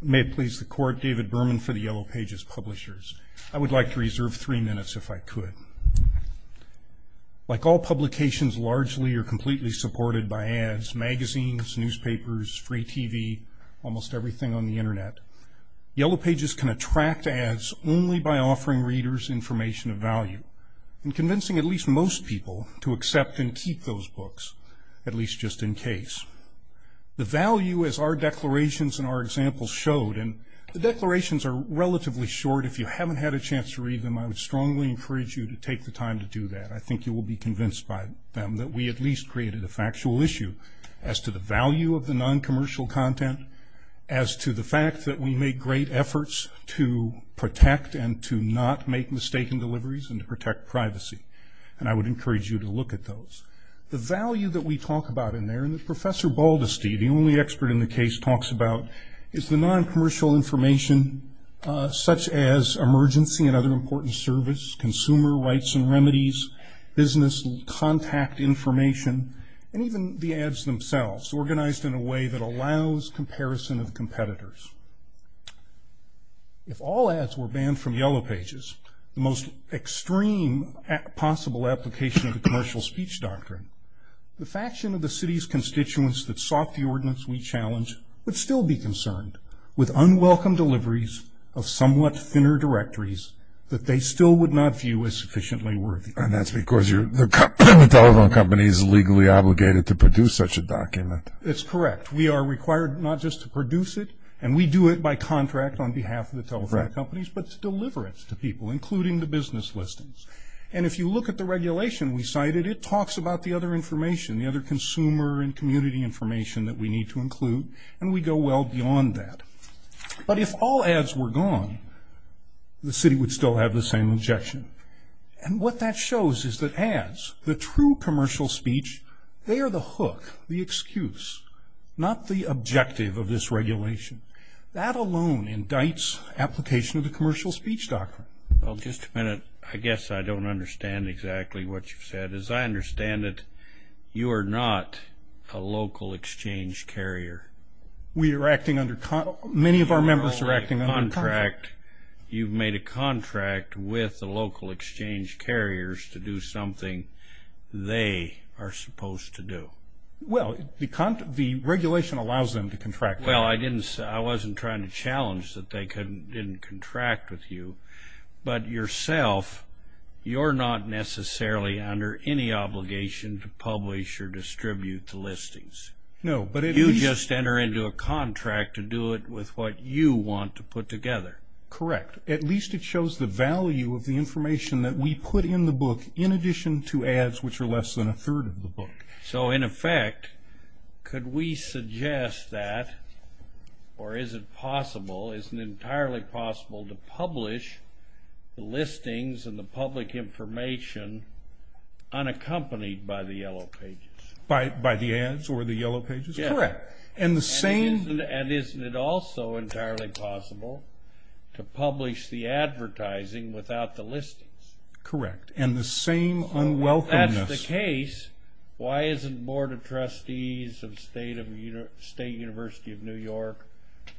May it please the Court, David Berman for the Yellow Pages Publishers. I would like to reserve three minutes if I could. Like all publications, largely or completely supported by ads, magazines, newspapers, free TV, almost everything on the Internet, Yellow Pages can attract ads only by offering readers information of value and convincing at least most people to accept and keep those books, at least just in case. The value, as our declarations and our examples showed, and the declarations are relatively short. If you haven't had a chance to read them, I would strongly encourage you to take the time to do that. I think you will be convinced by them that we at least created a factual issue as to the value of the noncommercial content, as to the fact that we make great efforts to protect and to not make mistaken deliveries and to protect privacy. And I would encourage you to look at those. The value that we talk about in there, and Professor Baldesty, the only expert in the case, talks about is the noncommercial information such as emergency and other important service, consumer rights and remedies, business contact information, and even the ads themselves, organized in a way that allows comparison of competitors. If all ads were banned from Yellow Pages, the most extreme possible application of the commercial speech doctrine, the faction of the city's constituents that sought the ordinance we challenge would still be concerned with unwelcome deliveries of somewhat thinner directories that they still would not view as sufficiently worthy. And that's because the telephone company is legally obligated to produce such a document. That's correct. We are required not just to produce it, and we do it by contract on behalf of the telephone companies, but to deliver it to people, including the business listings. And if you look at the regulation we cited, it talks about the other information, the other consumer and community information that we need to include, and we go well beyond that. But if all ads were gone, the city would still have the same objection. And what that shows is that ads, the true commercial speech, they are the hook, the excuse, not the objective of this regulation. That alone indicts application of the commercial speech doctrine. Well, just a minute. I guess I don't understand exactly what you've said. As I understand it, you are not a local exchange carrier. We are acting under contract. Many of our members are acting under contract. You've made a contract with the local exchange carriers to do something they are supposed to do. Well, the regulation allows them to contract. Well, I wasn't trying to challenge that they didn't contract with you. But yourself, you're not necessarily under any obligation to publish or distribute the listings. You just enter into a contract to do it with what you want to put together. Correct. At least it shows the value of the information that we put in the book, in addition to ads which are less than a third of the book. So, in effect, could we suggest that, or is it possible, is it entirely possible to publish the listings and the public information unaccompanied by the Yellow Pages? By the ads or the Yellow Pages? Correct. And the same... And isn't it also entirely possible to publish the advertising without the listings? And the same unwelcomeness... If that's the case, why isn't Board of Trustees of State University of New York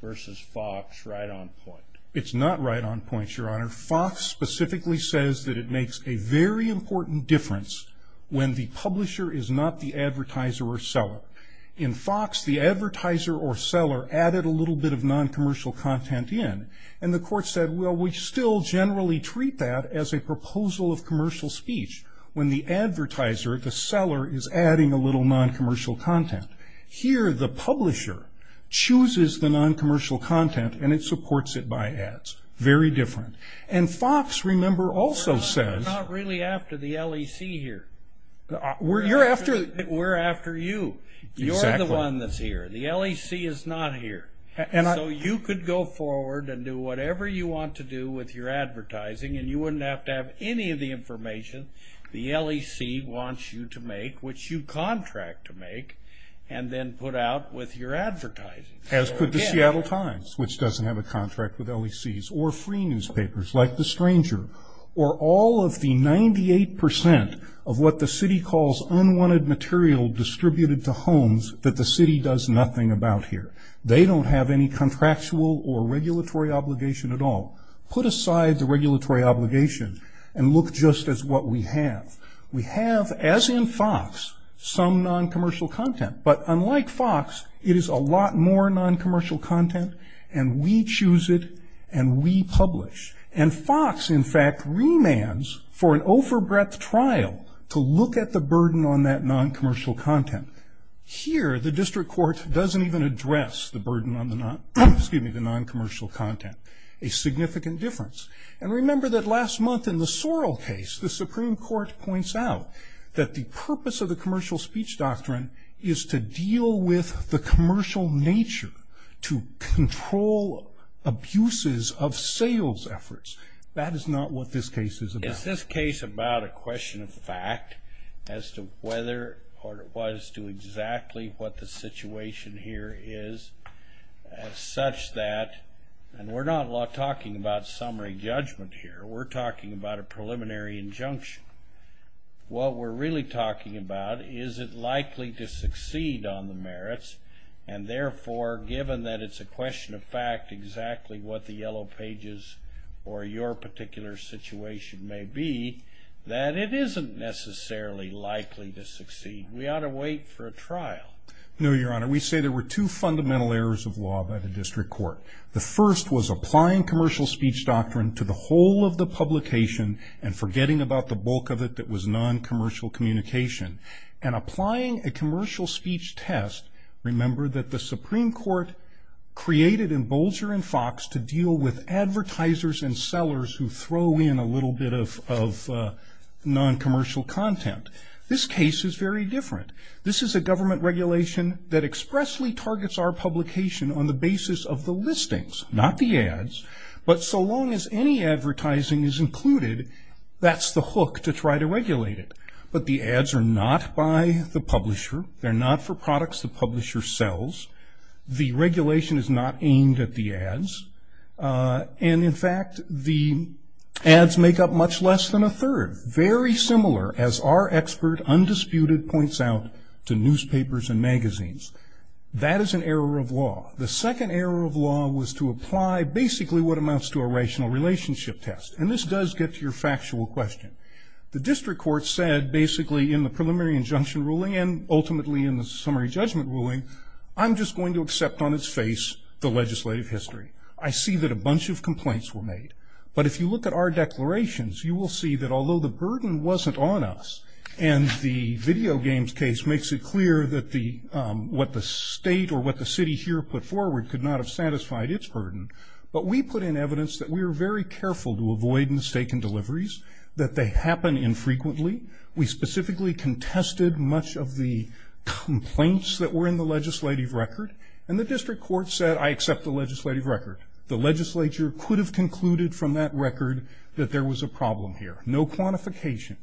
versus Fox right on point? It's not right on point, Your Honor. Fox specifically says that it makes a very important difference when the publisher is not the advertiser or seller. In Fox, the advertiser or seller added a little bit of noncommercial content in, and the court said, well, we still generally treat that as a proposal of commercial speech. When the advertiser, the seller, is adding a little noncommercial content. Here, the publisher chooses the noncommercial content, and it supports it by ads. Very different. And Fox, remember, also says... We're after you. You're the one that's here. The LEC is not here. So you could go forward and do whatever you want to do with your advertising, and you wouldn't have to have any of the information the LEC wants you to make, which you contract to make, and then put out with your advertising. As could the Seattle Times, which doesn't have a contract with LECs, or free newspapers like The Stranger, or all of the 98% of what the city calls unwanted material distributed to homes that the city does nothing about here. They don't have any contractual or regulatory obligation at all. Put aside the regulatory obligation and look just as what we have. We have, as in Fox, some noncommercial content, but unlike Fox, it is a lot more noncommercial content, and we choose it, and we publish. And Fox, in fact, remands for an overbreadth trial to look at the burden on that noncommercial content. Here, the district court doesn't even address the burden on the noncommercial content. A significant difference. And remember that last month in the Sorrell case, the Supreme Court points out that the purpose of the commercial speech doctrine is to deal with the commercial nature, to control abuses of sales efforts. That is not what this case is about. It's this case about a question of fact as to whether or as to exactly what the situation here is as such that, and we're not talking about summary judgment here. We're talking about a preliminary injunction. What we're really talking about is it likely to succeed on the merits, and therefore, given that it's a question of fact exactly what the yellow pages or your particular situation may be, that it isn't necessarily likely to succeed. We ought to wait for a trial. No, Your Honor. We say there were two fundamental errors of law by the district court. The first was applying commercial speech doctrine to the whole of the publication and forgetting about the bulk of it that was noncommercial communication, and applying a commercial speech test. Remember that the Supreme Court created in Bolger and Fox to deal with advertisers and sellers who throw in a little bit of noncommercial content. This case is very different. This is a government regulation that expressly targets our publication on the basis of the listings, not the ads. But so long as any advertising is included, that's the hook to try to regulate it. But the ads are not by the publisher. They're not for products the publisher sells. The regulation is not aimed at the ads. And, in fact, the ads make up much less than a third, very similar, as our expert, Undisputed, points out to newspapers and magazines. That is an error of law. The second error of law was to apply basically what amounts to a rational relationship test. And this does get to your factual question. The district court said basically in the preliminary injunction ruling and ultimately in the summary judgment ruling, I'm just going to accept on its face the legislative history. I see that a bunch of complaints were made. But if you look at our declarations, you will see that although the burden wasn't on us and the video games case makes it clear that what the state or what the city here put forward could not have satisfied its burden, but we put in evidence that we were very careful to avoid mistaken deliveries, that they happen infrequently. We specifically contested much of the complaints that were in the legislative record. And the district court said, I accept the legislative record. The legislature could have concluded from that record that there was a problem here. No quantification.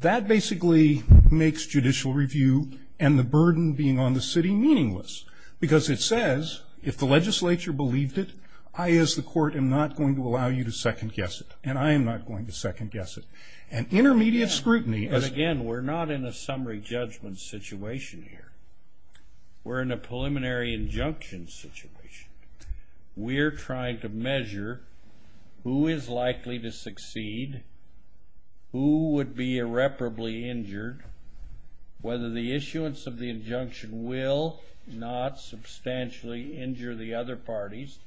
That basically makes judicial review and the burden being on the city meaningless. Because it says if the legislature believed it, I as the court am not going to allow you to second guess it. And I am not going to second guess it. And intermediate scrutiny. Again, we're not in a summary judgment situation here. We're in a preliminary injunction situation. We're trying to measure who is likely to succeed, who would be irreparably injured, whether the issuance of the injunction will not substantially injure the other parties,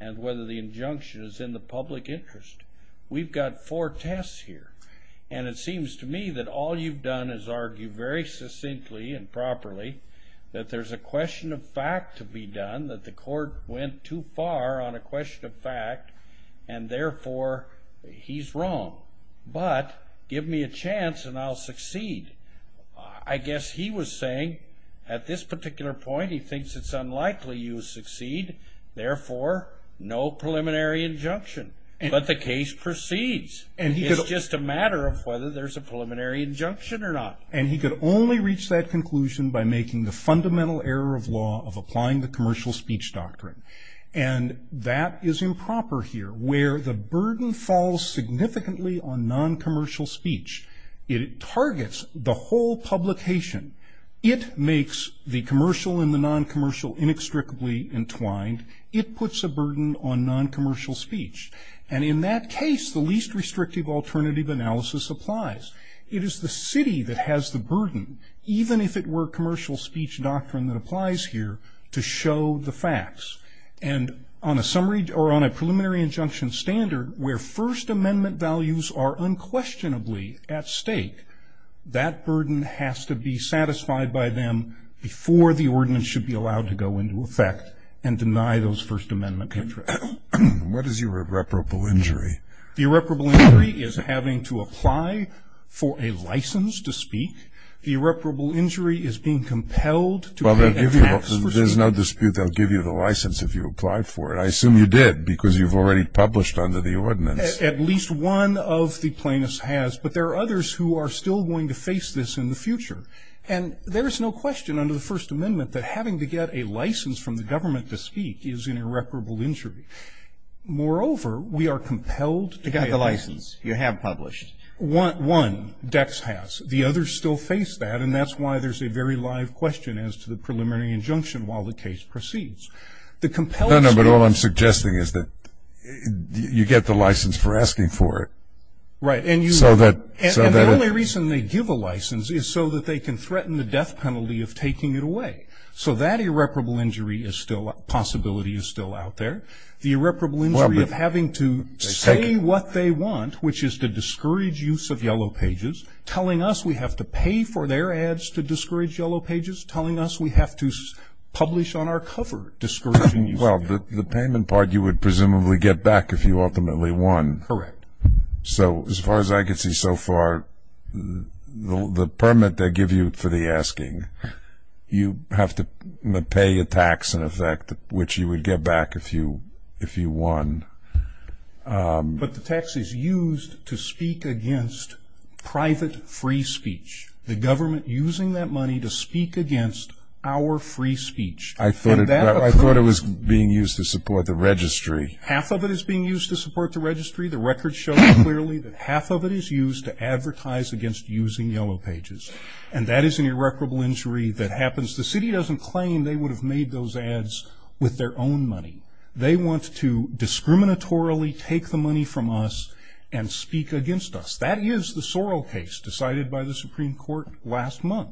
and whether the injunction is in the public interest. We've got four tests here. And it seems to me that all you've done is argue very succinctly and properly that there's a question of fact to be done, that the court went too far on a question of fact, and therefore he's wrong. But give me a chance and I'll succeed. I guess he was saying at this particular point he thinks it's unlikely you'll succeed, therefore no preliminary injunction. But the case proceeds. It's just a matter of whether there's a preliminary injunction or not. And he could only reach that conclusion by making the fundamental error of law of applying the commercial speech doctrine. And that is improper here, where the burden falls significantly on noncommercial speech. It targets the whole publication. It makes the commercial and the noncommercial inextricably entwined. It puts a burden on noncommercial speech. And in that case, the least restrictive alternative analysis applies. It is the city that has the burden, even if it were commercial speech doctrine that applies here, to show the facts. And on a preliminary injunction standard where First Amendment values are unquestionably at stake, that burden has to be satisfied by them before the ordinance should be allowed to go into effect and deny those First Amendment interests. What is irreparable injury? The irreparable injury is having to apply for a license to speak. The irreparable injury is being compelled to pay a tax for speaking. Well, there's no dispute they'll give you the license if you applied for it. I assume you did because you've already published under the ordinance. At least one of the plaintiffs has. But there are others who are still going to face this in the future. And there is no question under the First Amendment that having to get a license from the government to speak is an irreparable injury. Moreover, we are compelled to pay a tax. You got the license. You have published. One, Dex has. The others still face that, and that's why there's a very live question as to the preliminary injunction while the case proceeds. No, no, but all I'm suggesting is that you get the license for asking for it. Right. And the only reason they give a license is so that they can threaten the death penalty of taking it away. So that irreparable injury possibility is still out there. The irreparable injury of having to say what they want, which is to discourage use of Yellow Pages, telling us we have to pay for their ads to discourage Yellow Pages, telling us we have to publish on our cover discouraging use of Yellow Pages. Well, the payment part you would presumably get back if you ultimately won. Correct. So as far as I can see so far, the permit they give you for the asking, you have to pay a tax in effect, which you would get back if you won. But the tax is used to speak against private free speech, the government using that money to speak against our free speech. I thought it was being used to support the registry. Half of it is being used to support the registry. The record shows clearly that half of it is used to advertise against using Yellow Pages, and that is an irreparable injury that happens. The city doesn't claim they would have made those ads with their own money. They want to discriminatorily take the money from us and speak against us. That is the Sorrell case decided by the Supreme Court last month,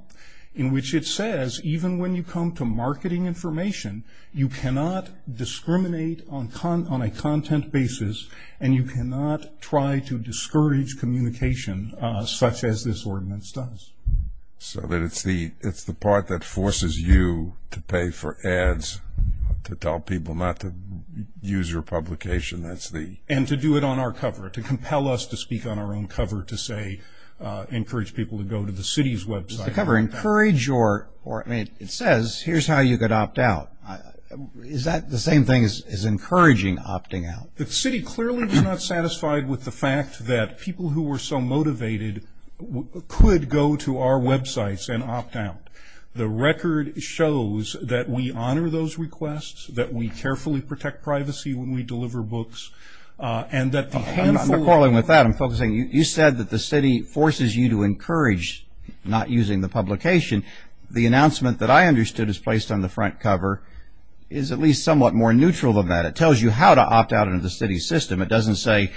in which it says even when you come to marketing information, you cannot discriminate on a content basis, and you cannot try to discourage communication such as this ordinance does. So it's the part that forces you to pay for ads, to tell people not to use your publication. And to do it on our cover, to compel us to speak on our own cover, to say encourage people to go to the city's website. The cover, encourage, or it says here's how you could opt out. Is that the same thing as encouraging opting out? The city clearly was not satisfied with the fact that people who were so motivated could go to our websites and opt out. The record shows that we honor those requests, that we carefully protect privacy when we deliver books, and that the handful of- I'm not quarreling with that. I'm focusing. You said that the city forces you to encourage not using the publication. The announcement that I understood is placed on the front cover is at least somewhat more neutral than that. It tells you how to opt out of the city's system. It doesn't say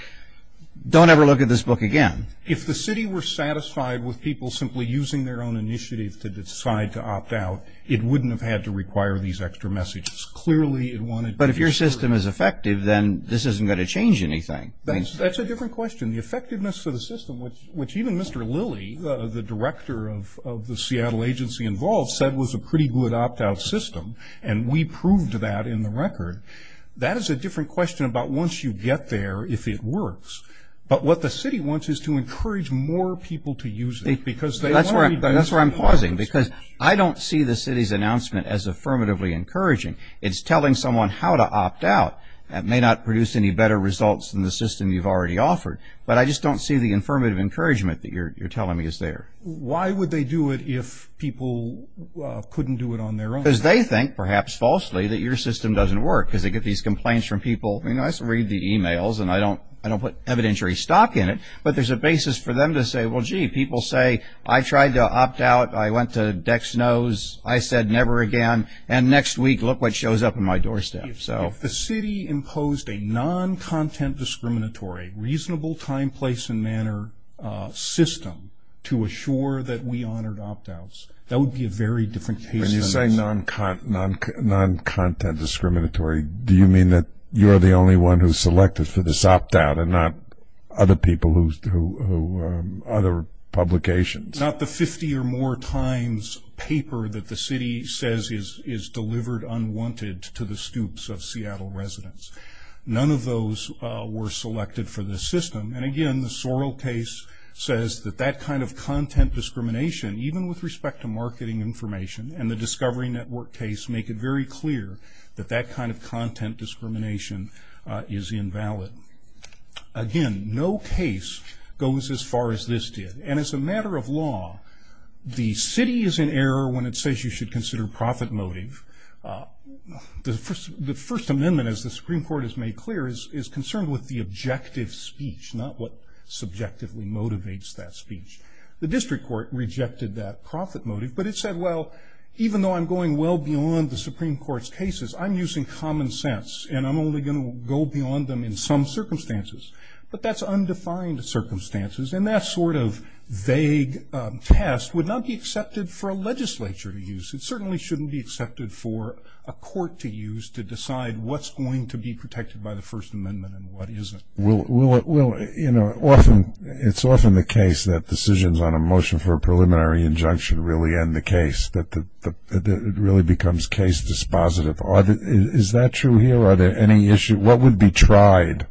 don't ever look at this book again. If the city were satisfied with people simply using their own initiatives to decide to opt out, it wouldn't have had to require these extra messages. Clearly it wanted- But if your system is effective, then this isn't going to change anything. That's a different question. The effectiveness of the system, which even Mr. Lilly, the director of the Seattle agency involved, said was a pretty good opt-out system, and we proved that in the record, that is a different question about once you get there, if it works. But what the city wants is to encourage more people to use it. That's where I'm pausing, because I don't see the city's announcement as affirmatively encouraging. It's telling someone how to opt out. It may not produce any better results than the system you've already offered, but I just don't see the affirmative encouragement that you're telling me is there. Why would they do it if people couldn't do it on their own? Because they think, perhaps falsely, that your system doesn't work, because they get these complaints from people. I mean, I read the e-mails, and I don't put evidentiary stock in it, but there's a basis for them to say, well, gee, people say, I tried to opt out, I went to Dex Knows, I said never again, and next week, look what shows up in my doorstep. If the city imposed a non-content discriminatory, reasonable time, place, and manner system to assure that we honored opt-outs, that would be a very different case than this. When you say non-content discriminatory, do you mean that you're the only one who's selected for this opt-out and not other publications? Not the 50 or more times paper that the city says is delivered unwanted to the scoops of Seattle residents. None of those were selected for this system, and again, the Sorrell case says that that kind of content discrimination, even with respect to marketing information, and the Discovery Network case make it very clear that that kind of content discrimination is invalid. Again, no case goes as far as this did, and as a matter of law, the city is in error when it says you should consider profit motive. The First Amendment, as the Supreme Court has made clear, is concerned with the objective speech, not what subjectively motivates that speech. The district court rejected that profit motive, but it said, well, even though I'm going well beyond the Supreme Court's cases, I'm using common sense, and I'm only going to go beyond them in some circumstances, but that's undefined circumstances, and that sort of vague test would not be accepted for a legislature to use. It certainly shouldn't be accepted for a court to use to decide what's going to be protected by the First Amendment and what isn't. It's often the case that decisions on a motion for a preliminary injunction really end the case, that it really becomes case dispositive. Is that true here? Are there any issues? What would be tried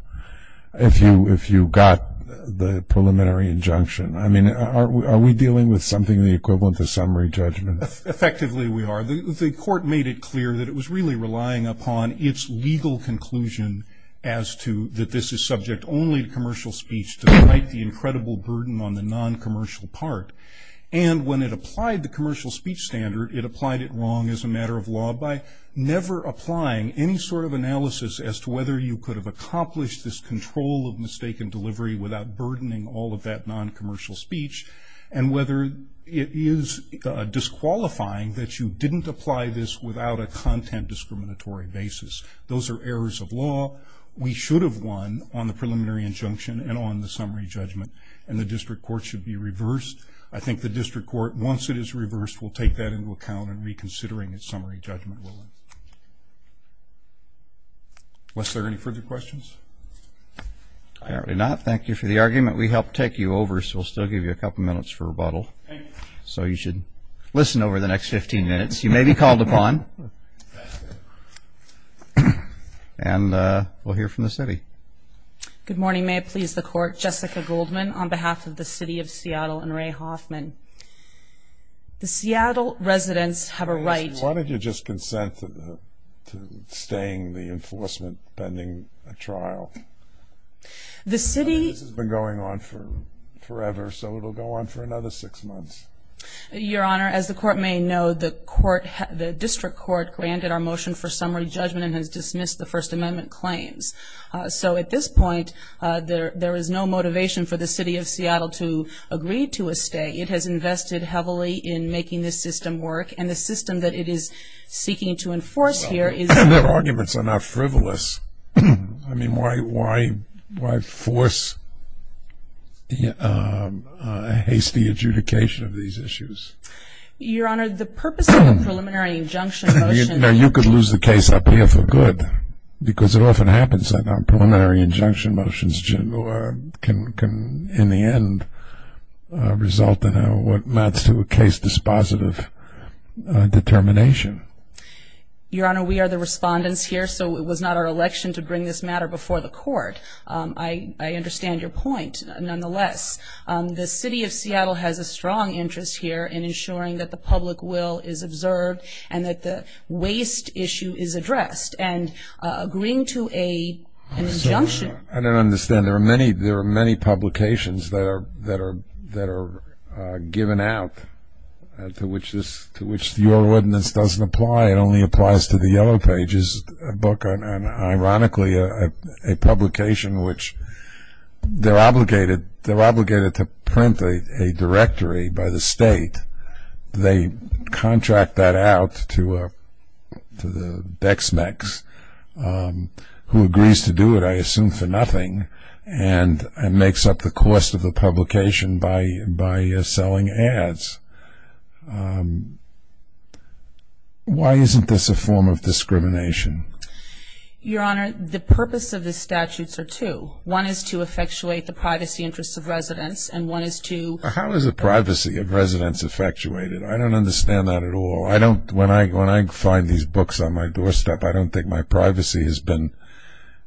if you got the preliminary injunction? I mean, are we dealing with something the equivalent of summary judgment? Effectively, we are. The court made it clear that it was really relying upon its legal conclusion as to that this is subject only to commercial speech despite the incredible burden on the noncommercial part, and when it applied the commercial speech standard, it applied it wrong as a matter of law by never applying any sort of analysis as to whether you could have accomplished this control of mistaken delivery without burdening all of that noncommercial speech, and whether it is disqualifying that you didn't apply this without a content discriminatory basis. Those are errors of law. We should have won on the preliminary injunction and on the summary judgment, and the district court should be reversed. I think the district court, once it is reversed, will take that into account in reconsidering its summary judgment ruling. Wes, are there any further questions? Apparently not. Thank you for the argument. We helped take you over, so we'll still give you a couple minutes for rebuttal. Thank you. So you should listen over the next 15 minutes. You may be called upon. And we'll hear from the city. Good morning. May it please the court. Jessica Goldman on behalf of the city of Seattle and Ray Hoffman. The Seattle residents have a right to- Why don't you just consent to staying the enforcement pending a trial? The city- This has been going on forever, so it will go on for another six months. Your Honor, as the court may know, the district court granted our motion for summary judgment and has dismissed the First Amendment claims. So at this point, there is no motivation for the city of Seattle to agree to a stay. It has invested heavily in making this system work, and the system that it is seeking to enforce here is- Their arguments are not frivolous. I mean, why force a hasty adjudication of these issues? Your Honor, the purpose of a preliminary injunction motion- Now, you could lose the case up here for good because it often happens that our preliminary injunction motions can, in the end, result in what amounts to a case dispositive determination. Your Honor, we are the respondents here, so it was not our election to bring this matter before the court. I understand your point, nonetheless. The city of Seattle has a strong interest here in ensuring that the public will is observed and that the waste issue is addressed. And agreeing to an injunction- I don't understand. There are many publications that are given out to which your ordinance doesn't apply. It only applies to the Yellow Pages book, and ironically, a publication which- They're obligated to print a directory by the state. They contract that out to the Bexmex, who agrees to do it, I assume for nothing, and makes up the cost of the publication by selling ads. Why isn't this a form of discrimination? Your Honor, the purpose of the statutes are two. One is to effectuate the privacy interests of residents, and one is to- How is the privacy of residents effectuated? I don't understand that at all. When I find these books on my doorstep, I don't think my privacy has been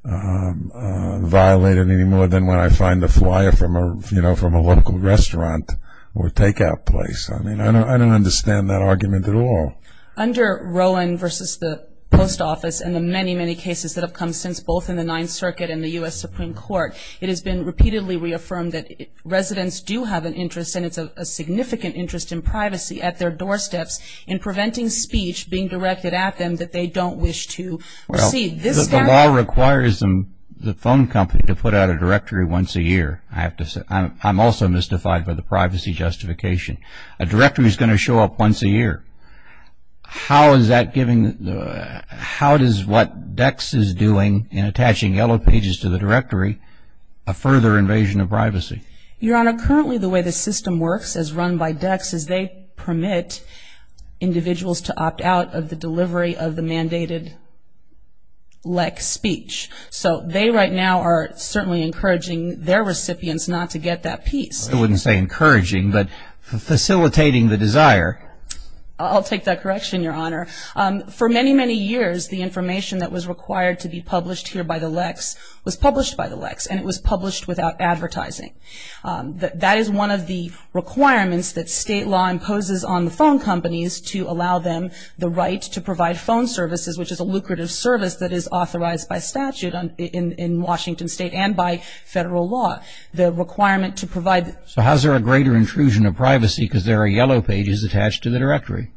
violated any more than when I find the flyer from a local restaurant or takeout place. I mean, I don't understand that argument at all. Under Rowan v. the Post Office and the many, many cases that have come since, both in the Ninth Circuit and the U.S. Supreme Court, it has been repeatedly reaffirmed that residents do have an interest, and it's a significant interest in privacy at their doorsteps, in preventing speech being directed at them that they don't wish to receive. The law requires the phone company to put out a directory once a year. I'm also mystified by the privacy justification. A directory is going to show up once a year. How does what DECCS is doing in attaching yellow pages to the directory, a further invasion of privacy? Your Honor, currently the way the system works, as run by DECCS, is they permit individuals to opt out of the delivery of the mandated LEC speech. So they right now are certainly encouraging their recipients not to get that piece. I wouldn't say encouraging, but facilitating the desire. I'll take that correction, Your Honor. For many, many years, the information that was required to be published here by the LECS was published by the LECS, and it was published without advertising. That is one of the requirements that state law imposes on the phone companies to allow them the right to provide phone services, which is a lucrative service that is authorized by statute in Washington State and by federal law, the requirement to provide. So how is there a greater intrusion of privacy because there are yellow pages attached to the directory?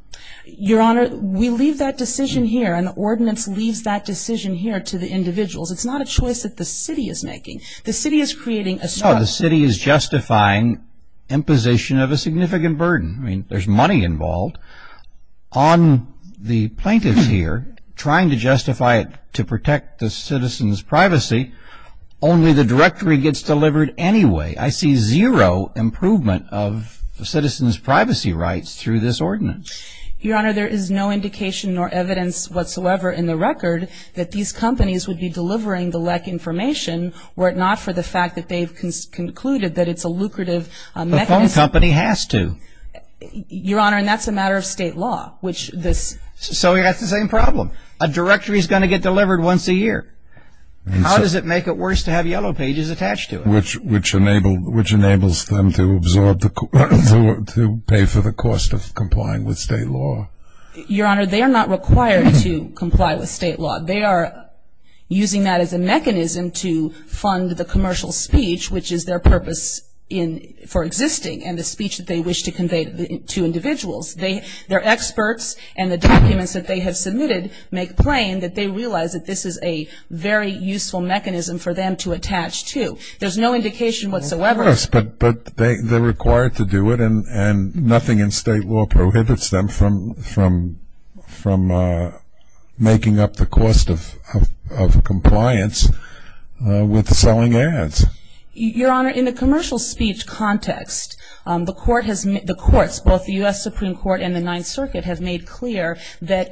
Your Honor, we leave that decision here, and the ordinance leaves that decision here to the individuals. It's not a choice that the city is making. No, the city is justifying imposition of a significant burden. I mean, there's money involved. On the plaintiffs here, trying to justify it to protect the citizens' privacy, only the directory gets delivered anyway. I see zero improvement of the citizens' privacy rights through this ordinance. Your Honor, there is no indication nor evidence whatsoever in the record that these companies would be delivering the LECS information were it not for the fact that they've concluded that it's a lucrative mechanism. The phone company has to. Your Honor, and that's a matter of state law. So we have the same problem. A directory is going to get delivered once a year. How does it make it worse to have yellow pages attached to it? Which enables them to pay for the cost of complying with state law. Your Honor, they are not required to comply with state law. They are using that as a mechanism to fund the commercial speech, which is their purpose for existing, and the speech that they wish to convey to individuals. Their experts and the documents that they have submitted make plain that they realize that this is a very useful mechanism for them to attach to. There's no indication whatsoever. Of course, but they're required to do it, and nothing in state law prohibits them from making up the cost of compliance with selling ads. Your Honor, in the commercial speech context, the courts, both the U.S. Supreme Court and the Ninth Circuit, have made clear that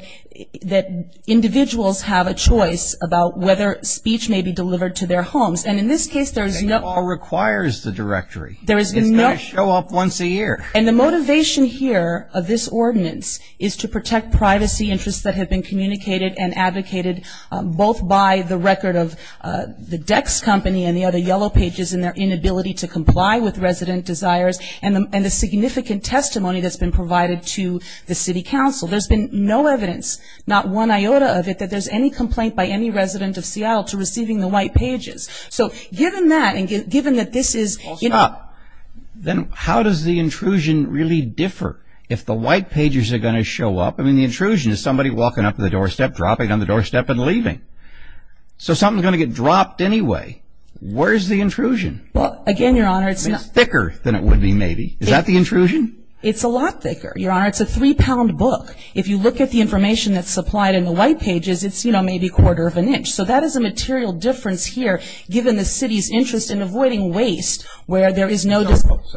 individuals have a choice about whether speech may be delivered to their homes. And in this case, there is no... State law requires the directory. It's going to show up once a year. And the motivation here of this ordinance is to protect privacy interests that have been communicated and advocated both by the record of the Dex Company and the other yellow pages and their inability to comply with resident desires and the significant testimony that's been provided to the city council. There's been no evidence, not one iota of it, that there's any complaint by any resident of Seattle to receiving the white pages. So given that and given that this is... Then how does the intrusion really differ if the white pages are going to show up? I mean, the intrusion is somebody walking up to the doorstep, dropping down the doorstep, and leaving. So something's going to get dropped anyway. Where's the intrusion? Again, Your Honor, it's not... It's thicker than it would be, maybe. Is that the intrusion? It's a lot thicker, Your Honor. It's a three-pound book. If you look at the information that's supplied in the white pages, it's, you know, maybe a quarter of an inch. So that is a material difference here, given the city's interest in avoiding waste where there is no...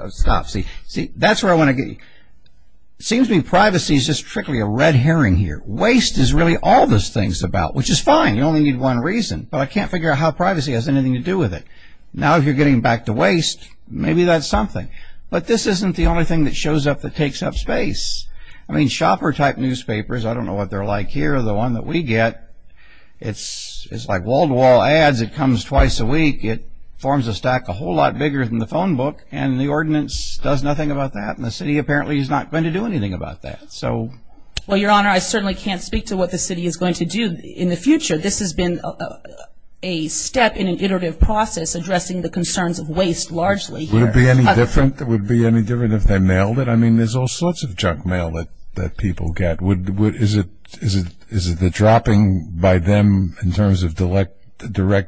Stop. See, that's where I want to get you. It seems to me privacy is just strictly a red herring here. Waste is really all this thing's about, which is fine. You only need one reason. But I can't figure out how privacy has anything to do with it. Now if you're getting back to waste, maybe that's something. But this isn't the only thing that shows up that takes up space. I mean, shopper-type newspapers, I don't know what they're like here, the one that we get, it's like wall-to-wall ads. It comes twice a week. It forms a stack a whole lot bigger than the phone book, and the ordinance does nothing about that, and the city apparently is not going to do anything about that. Well, Your Honor, I certainly can't speak to what the city is going to do. In the future, this has been a step in an iterative process addressing the concerns of waste largely here. Would it be any different if they mailed it? I mean, there's all sorts of junk mail that people get. Is it the dropping by them in terms of direct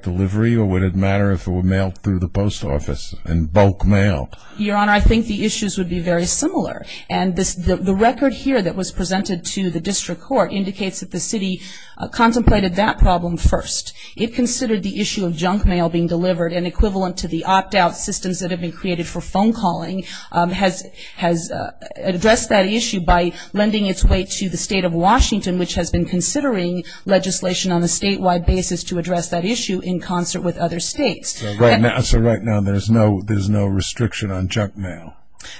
delivery, or would it matter if it were mailed through the post office in bulk mail? Your Honor, I think the issues would be very similar. And the record here that was presented to the district court indicates that the city contemplated that problem first. It considered the issue of junk mail being delivered, and equivalent to the opt-out systems that have been created for phone calling, has addressed that issue by lending its way to the state of Washington, which has been considering legislation on a statewide basis to address that issue in concert with other states. So right now there's no restriction on junk mail?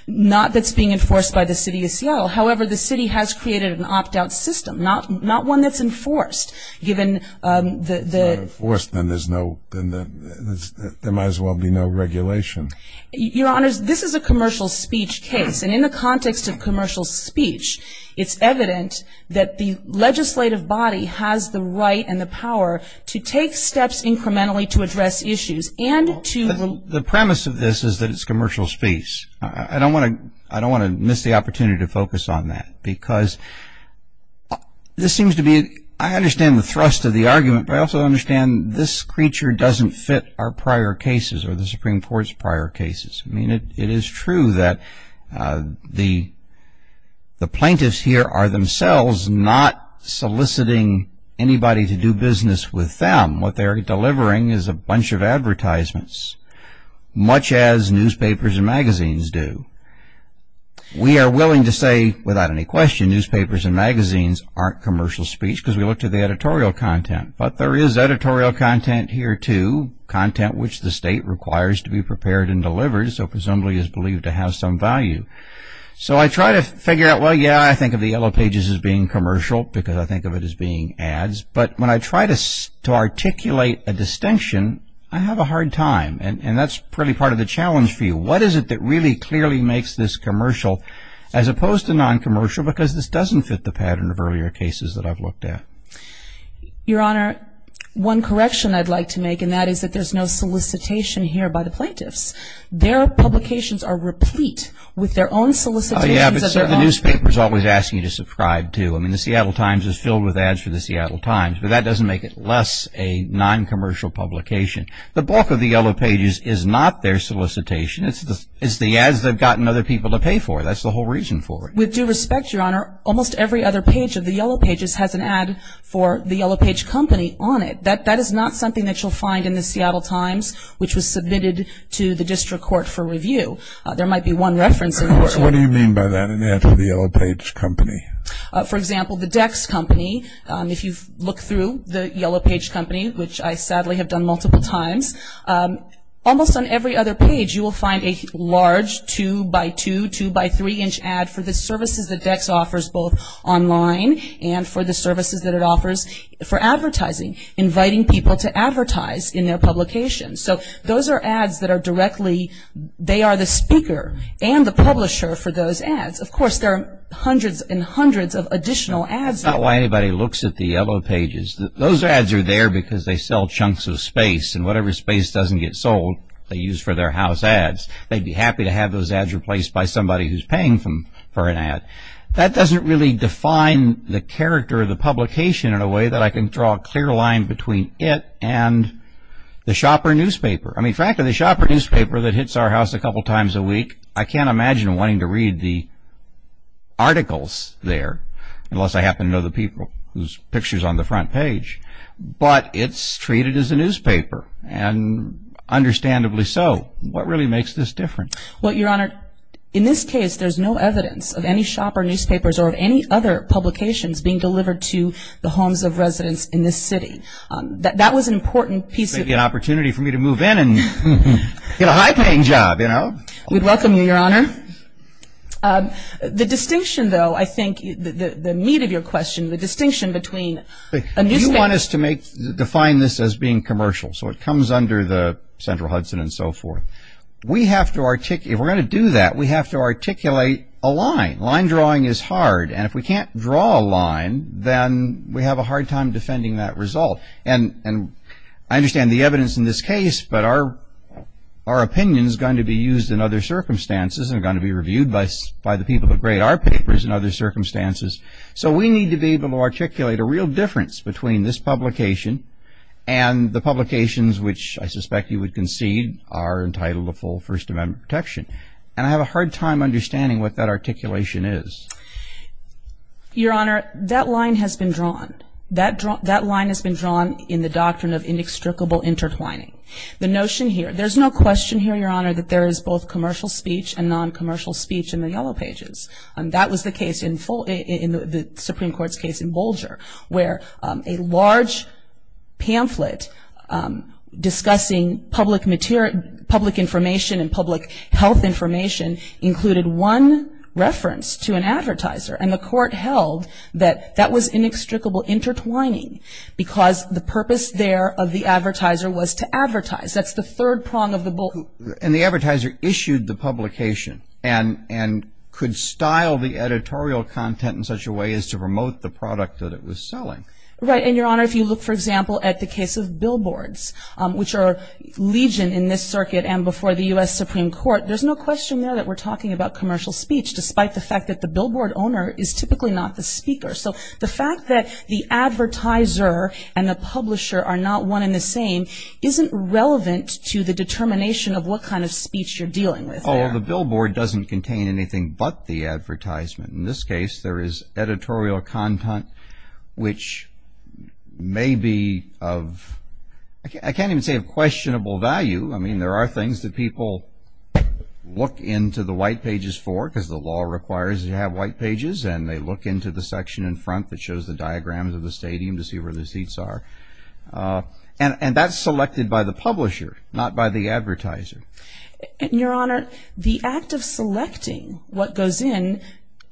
Not that's being enforced by the city of Seattle. However, the city has created an opt-out system, not one that's enforced. If it's not enforced, then there might as well be no regulation. Your Honor, this is a commercial speech case, and in the context of commercial speech, it's evident that the legislative body has the right and the power to take steps incrementally to address issues. The premise of this is that it's commercial speech. I don't want to miss the opportunity to focus on that, because this seems to be, I understand the thrust of the argument, but I also understand this creature doesn't fit our prior cases or the Supreme Court's prior cases. I mean, it is true that the plaintiffs here are themselves not soliciting anybody to do business with them. What they are delivering is a bunch of advertisements, much as newspapers and magazines do. We are willing to say, without any question, newspapers and magazines aren't commercial speech, because we look to the editorial content. But there is editorial content here, too, content which the state requires to be prepared and delivered, so presumably is believed to have some value. So I try to figure out, well, yeah, I think of the yellow pages as being commercial, because I think of it as being ads. But when I try to articulate a distinction, I have a hard time, and that's really part of the challenge for you. What is it that really clearly makes this commercial, as opposed to noncommercial, because this doesn't fit the pattern of earlier cases that I've looked at? Your Honor, one correction I'd like to make in that is that there's no solicitation here by the plaintiffs. Their publications are replete with their own solicitations of their own. Oh, yeah, but the newspaper is always asking you to subscribe, too. I mean, the Seattle Times is filled with ads for the Seattle Times, but that doesn't make it less a noncommercial publication. The bulk of the yellow pages is not their solicitation. It's the ads they've gotten other people to pay for. That's the whole reason for it. With due respect, Your Honor, almost every other page of the yellow pages has an ad for the yellow page company on it. That is not something that you'll find in the Seattle Times, which was submitted to the district court for review. There might be one reference in there. What do you mean by that, an ad for the yellow page company? For example, the Dex company. If you look through the yellow page company, which I sadly have done multiple times, almost on every other page you will find a large 2x2, 2x3-inch ad for the services that Dex offers both online and for the services that it offers for advertising, inviting people to advertise in their publication. So those are ads that are directly, they are the speaker and the publisher for those ads. Of course, there are hundreds and hundreds of additional ads. That's not why anybody looks at the yellow pages. Those ads are there because they sell chunks of space, and whatever space doesn't get sold they use for their house ads. They'd be happy to have those ads replaced by somebody who's paying for an ad. That doesn't really define the character of the publication in a way that I can draw a clear line between it and the shopper newspaper. In fact, the shopper newspaper that hits our house a couple times a week, I can't imagine wanting to read the articles there, unless I happen to know the people whose picture is on the front page. But it's treated as a newspaper, and understandably so. What really makes this different? Well, Your Honor, in this case there's no evidence of any shopper newspapers or of any other publications being delivered to the homes of residents in this city. That was an important piece of... It's going to be an opportunity for me to move in and get a high-paying job, you know. We'd welcome you, Your Honor. The distinction, though, I think, the meat of your question, the distinction between a newspaper... You want us to define this as being commercial, so it comes under the Central Hudson and so forth. We have to articulate... If we're going to do that, we have to articulate a line. Line drawing is hard, and if we can't draw a line, then we have a hard time defending that result. And I understand the evidence in this case, but our opinion is going to be used in other circumstances and going to be reviewed by the people who grade our papers in other circumstances. So we need to be able to articulate a real difference between this publication and the publications which I suspect you would concede are entitled to full First Amendment protection. And I have a hard time understanding what that articulation is. Your Honor, that line has been drawn. That line has been drawn in the doctrine of inextricable intertwining. The notion here... There's no question here, Your Honor, that there is both commercial speech and non-commercial speech in the Yellow Pages. That was the case in the Supreme Court's case in Bolger, where a large pamphlet discussing public information and public health information included one reference to an advertiser. And the court held that that was inextricable intertwining because the purpose there of the advertiser was to advertise. That's the third prong of the bull. And the advertiser issued the publication and could style the editorial content in such a way as to promote the product that it was selling. Right. And, Your Honor, if you look, for example, at the case of billboards, which are legion in this circuit and before the U.S. Supreme Court, there's no question there that we're talking about commercial speech despite the fact that the billboard owner is typically not the speaker. So the fact that the advertiser and the publisher are not one in the same isn't relevant to the determination of what kind of speech you're dealing with there. Oh, the billboard doesn't contain anything but the advertisement. In this case, there is editorial content, which may be of, I can't even say of questionable value. I mean, there are things that people look into the white pages for because the law requires that you have white pages, and they look into the section in front that shows the diagrams of the stadium to see where the seats are. And that's selected by the publisher, not by the advertiser. And, Your Honor, the act of selecting what goes in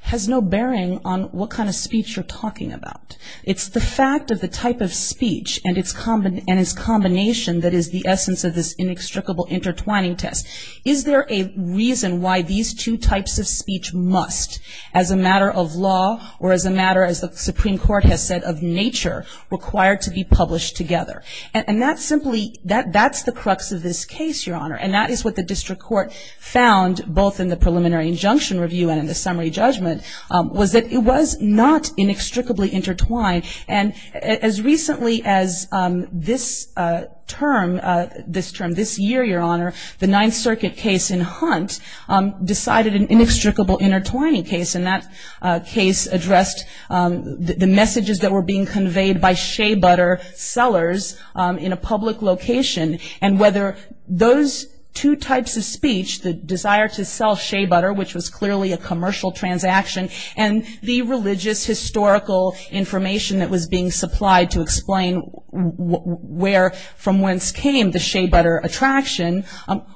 has no bearing on what kind of speech you're talking about. It's the fact of the type of speech and its combination that is the essence of this inextricable intertwining test. Is there a reason why these two types of speech must, as a matter of law or as a matter, as the Supreme Court has said, of nature require to be published together? And that's simply, that's the crux of this case, Your Honor. And that is what the district court found, both in the preliminary injunction review and in the summary judgment, was that it was not inextricably intertwined. And as recently as this term, this year, Your Honor, the Ninth Circuit case in Hunt decided an inextricable intertwining case, and that case addressed the messages that were being conveyed by Shea Butter sellers in a public location and whether those two types of speech, the desire to sell Shea Butter, which was clearly a commercial transaction, and the religious historical information that was being supplied to explain where from whence came the Shea Butter attraction,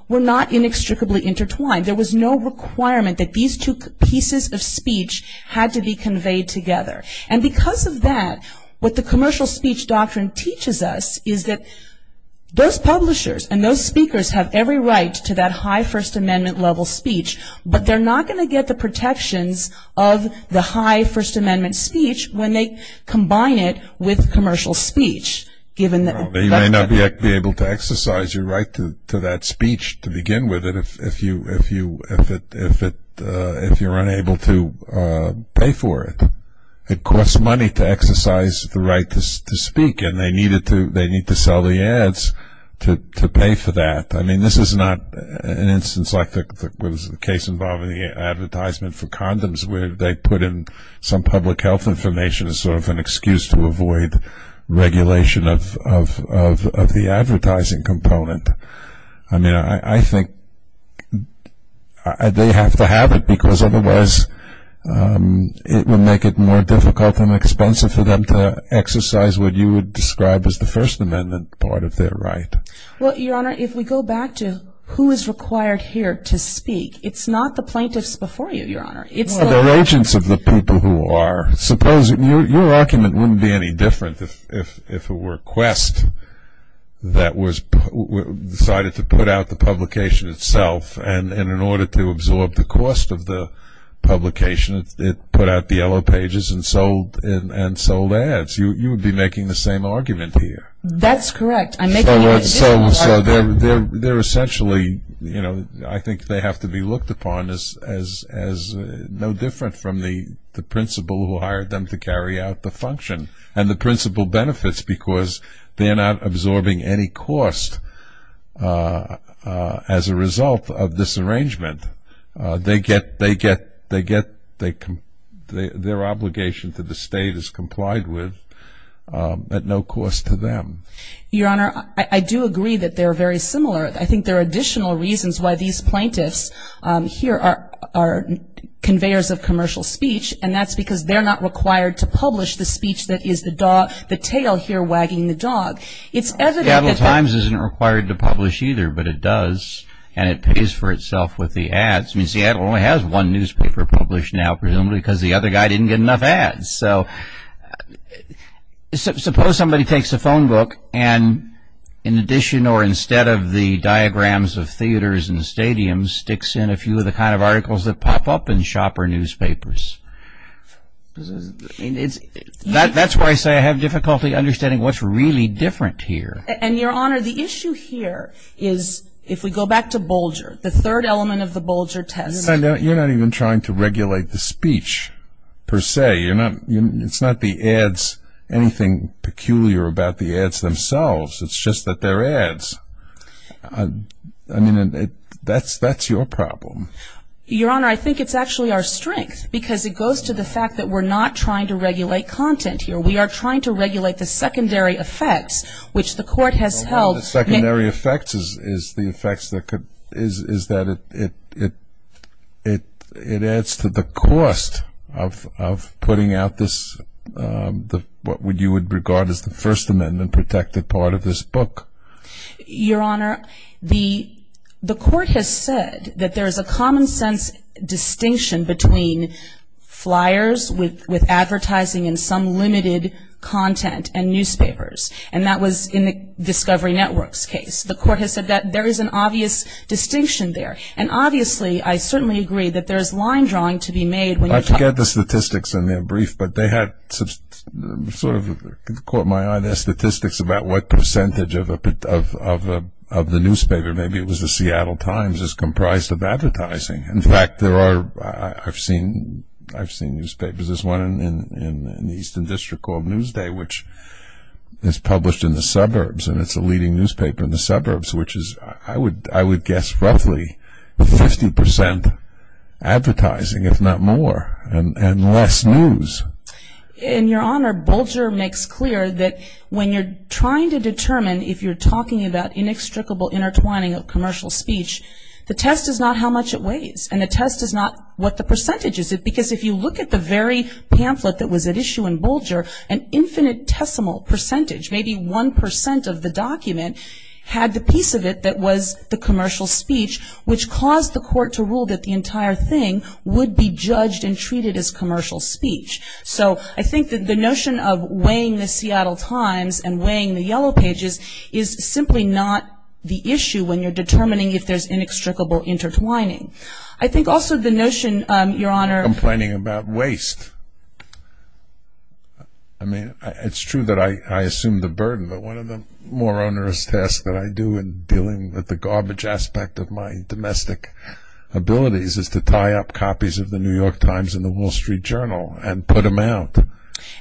were not inextricably intertwined. There was no requirement that these two pieces of speech had to be conveyed together. And because of that, what the commercial speech doctrine teaches us is that those publishers and those speakers have every right to that high First Amendment level speech, but they're not going to get the protections of the high First Amendment speech when they combine it with commercial speech. You may not be able to exercise your right to that speech to begin with if you're unable to pay for it. It costs money to exercise the right to speak, and they need to sell the ads to pay for that. I mean, this is not an instance like the case involving the advertisement for condoms where they put in some public health information as sort of an excuse to avoid regulation of the advertising component. I mean, I think they have to have it because otherwise it would make it more difficult and expensive for them to exercise what you would describe as the First Amendment part of their right. Well, Your Honor, if we go back to who is required here to speak, it's not the plaintiffs before you, Your Honor. It's the agents of the people who are. Suppose your argument wouldn't be any different if it were Quest that decided to put out the publication itself, and in order to absorb the cost of the publication, it put out the yellow pages and sold ads. You would be making the same argument here. That's correct. I'm making an additional argument. So they're essentially, you know, I think they have to be looked upon as no different from the principal who hired them to carry out the function. And the principal benefits because they're not absorbing any cost as a result of this arrangement. They get their obligation to the state is complied with at no cost to them. Your Honor, I do agree that they're very similar. I think there are additional reasons why these plaintiffs here are conveyors of commercial speech, and that's because they're not required to publish the speech that is the tail here wagging the dog. Seattle Times isn't required to publish either, but it does, and it pays for itself with the ads. I mean, Seattle only has one newspaper published now, presumably, because the other guy didn't get enough ads. So suppose somebody takes a phone book and, in addition or instead of the diagrams of theaters and stadiums, sticks in a few of the kind of articles that pop up in shop or newspapers. That's why I say I have difficulty understanding what's really different here. And, Your Honor, the issue here is, if we go back to Bolger, the third element of the Bolger test. You're not even trying to regulate the speech, per se. It's not the ads, anything peculiar about the ads themselves. It's just that they're ads. I mean, that's your problem. Your Honor, I think it's actually our strength, because it goes to the fact that we're not trying to regulate content here. We are trying to regulate the secondary effects, which the court has held. The secondary effects is the effects that it adds to the cost of putting out this, what you would regard as the First Amendment-protected part of this book. Your Honor, the court has said that there is a common-sense distinction between flyers with advertising and some limited content and newspapers. And that was in the Discovery Network's case. The court has said that there is an obvious distinction there. And, obviously, I certainly agree that there is line drawing to be made. I forget the statistics in their brief, but they had sort of caught my eye. There are statistics about what percentage of the newspaper, maybe it was the Seattle Times, is comprised of advertising. In fact, I've seen newspapers. There's one in the Eastern District called Newsday, which is published in the suburbs, and it's a leading newspaper in the suburbs, which is, I would guess, roughly 50% advertising, if not more, and less news. And, Your Honor, Bolger makes clear that when you're trying to determine if you're talking about inextricable intertwining of commercial speech, the test is not how much it weighs, and the test is not what the percentage is. Because if you look at the very pamphlet that was at issue in Bolger, an infinitesimal percentage, maybe 1% of the document, had the piece of it that was the commercial speech, which caused the court to rule that the entire thing would be judged and treated as commercial speech. So I think that the notion of weighing the Seattle Times and weighing the Yellow Pages is simply not the issue when you're determining if there's inextricable intertwining. I think also the notion, Your Honor. Complaining about waste. I mean, it's true that I assume the burden, but one of the more onerous tasks that I do in dealing with the garbage aspect of my domestic abilities is to tie up copies of the New York Times and the Wall Street Journal and put them out.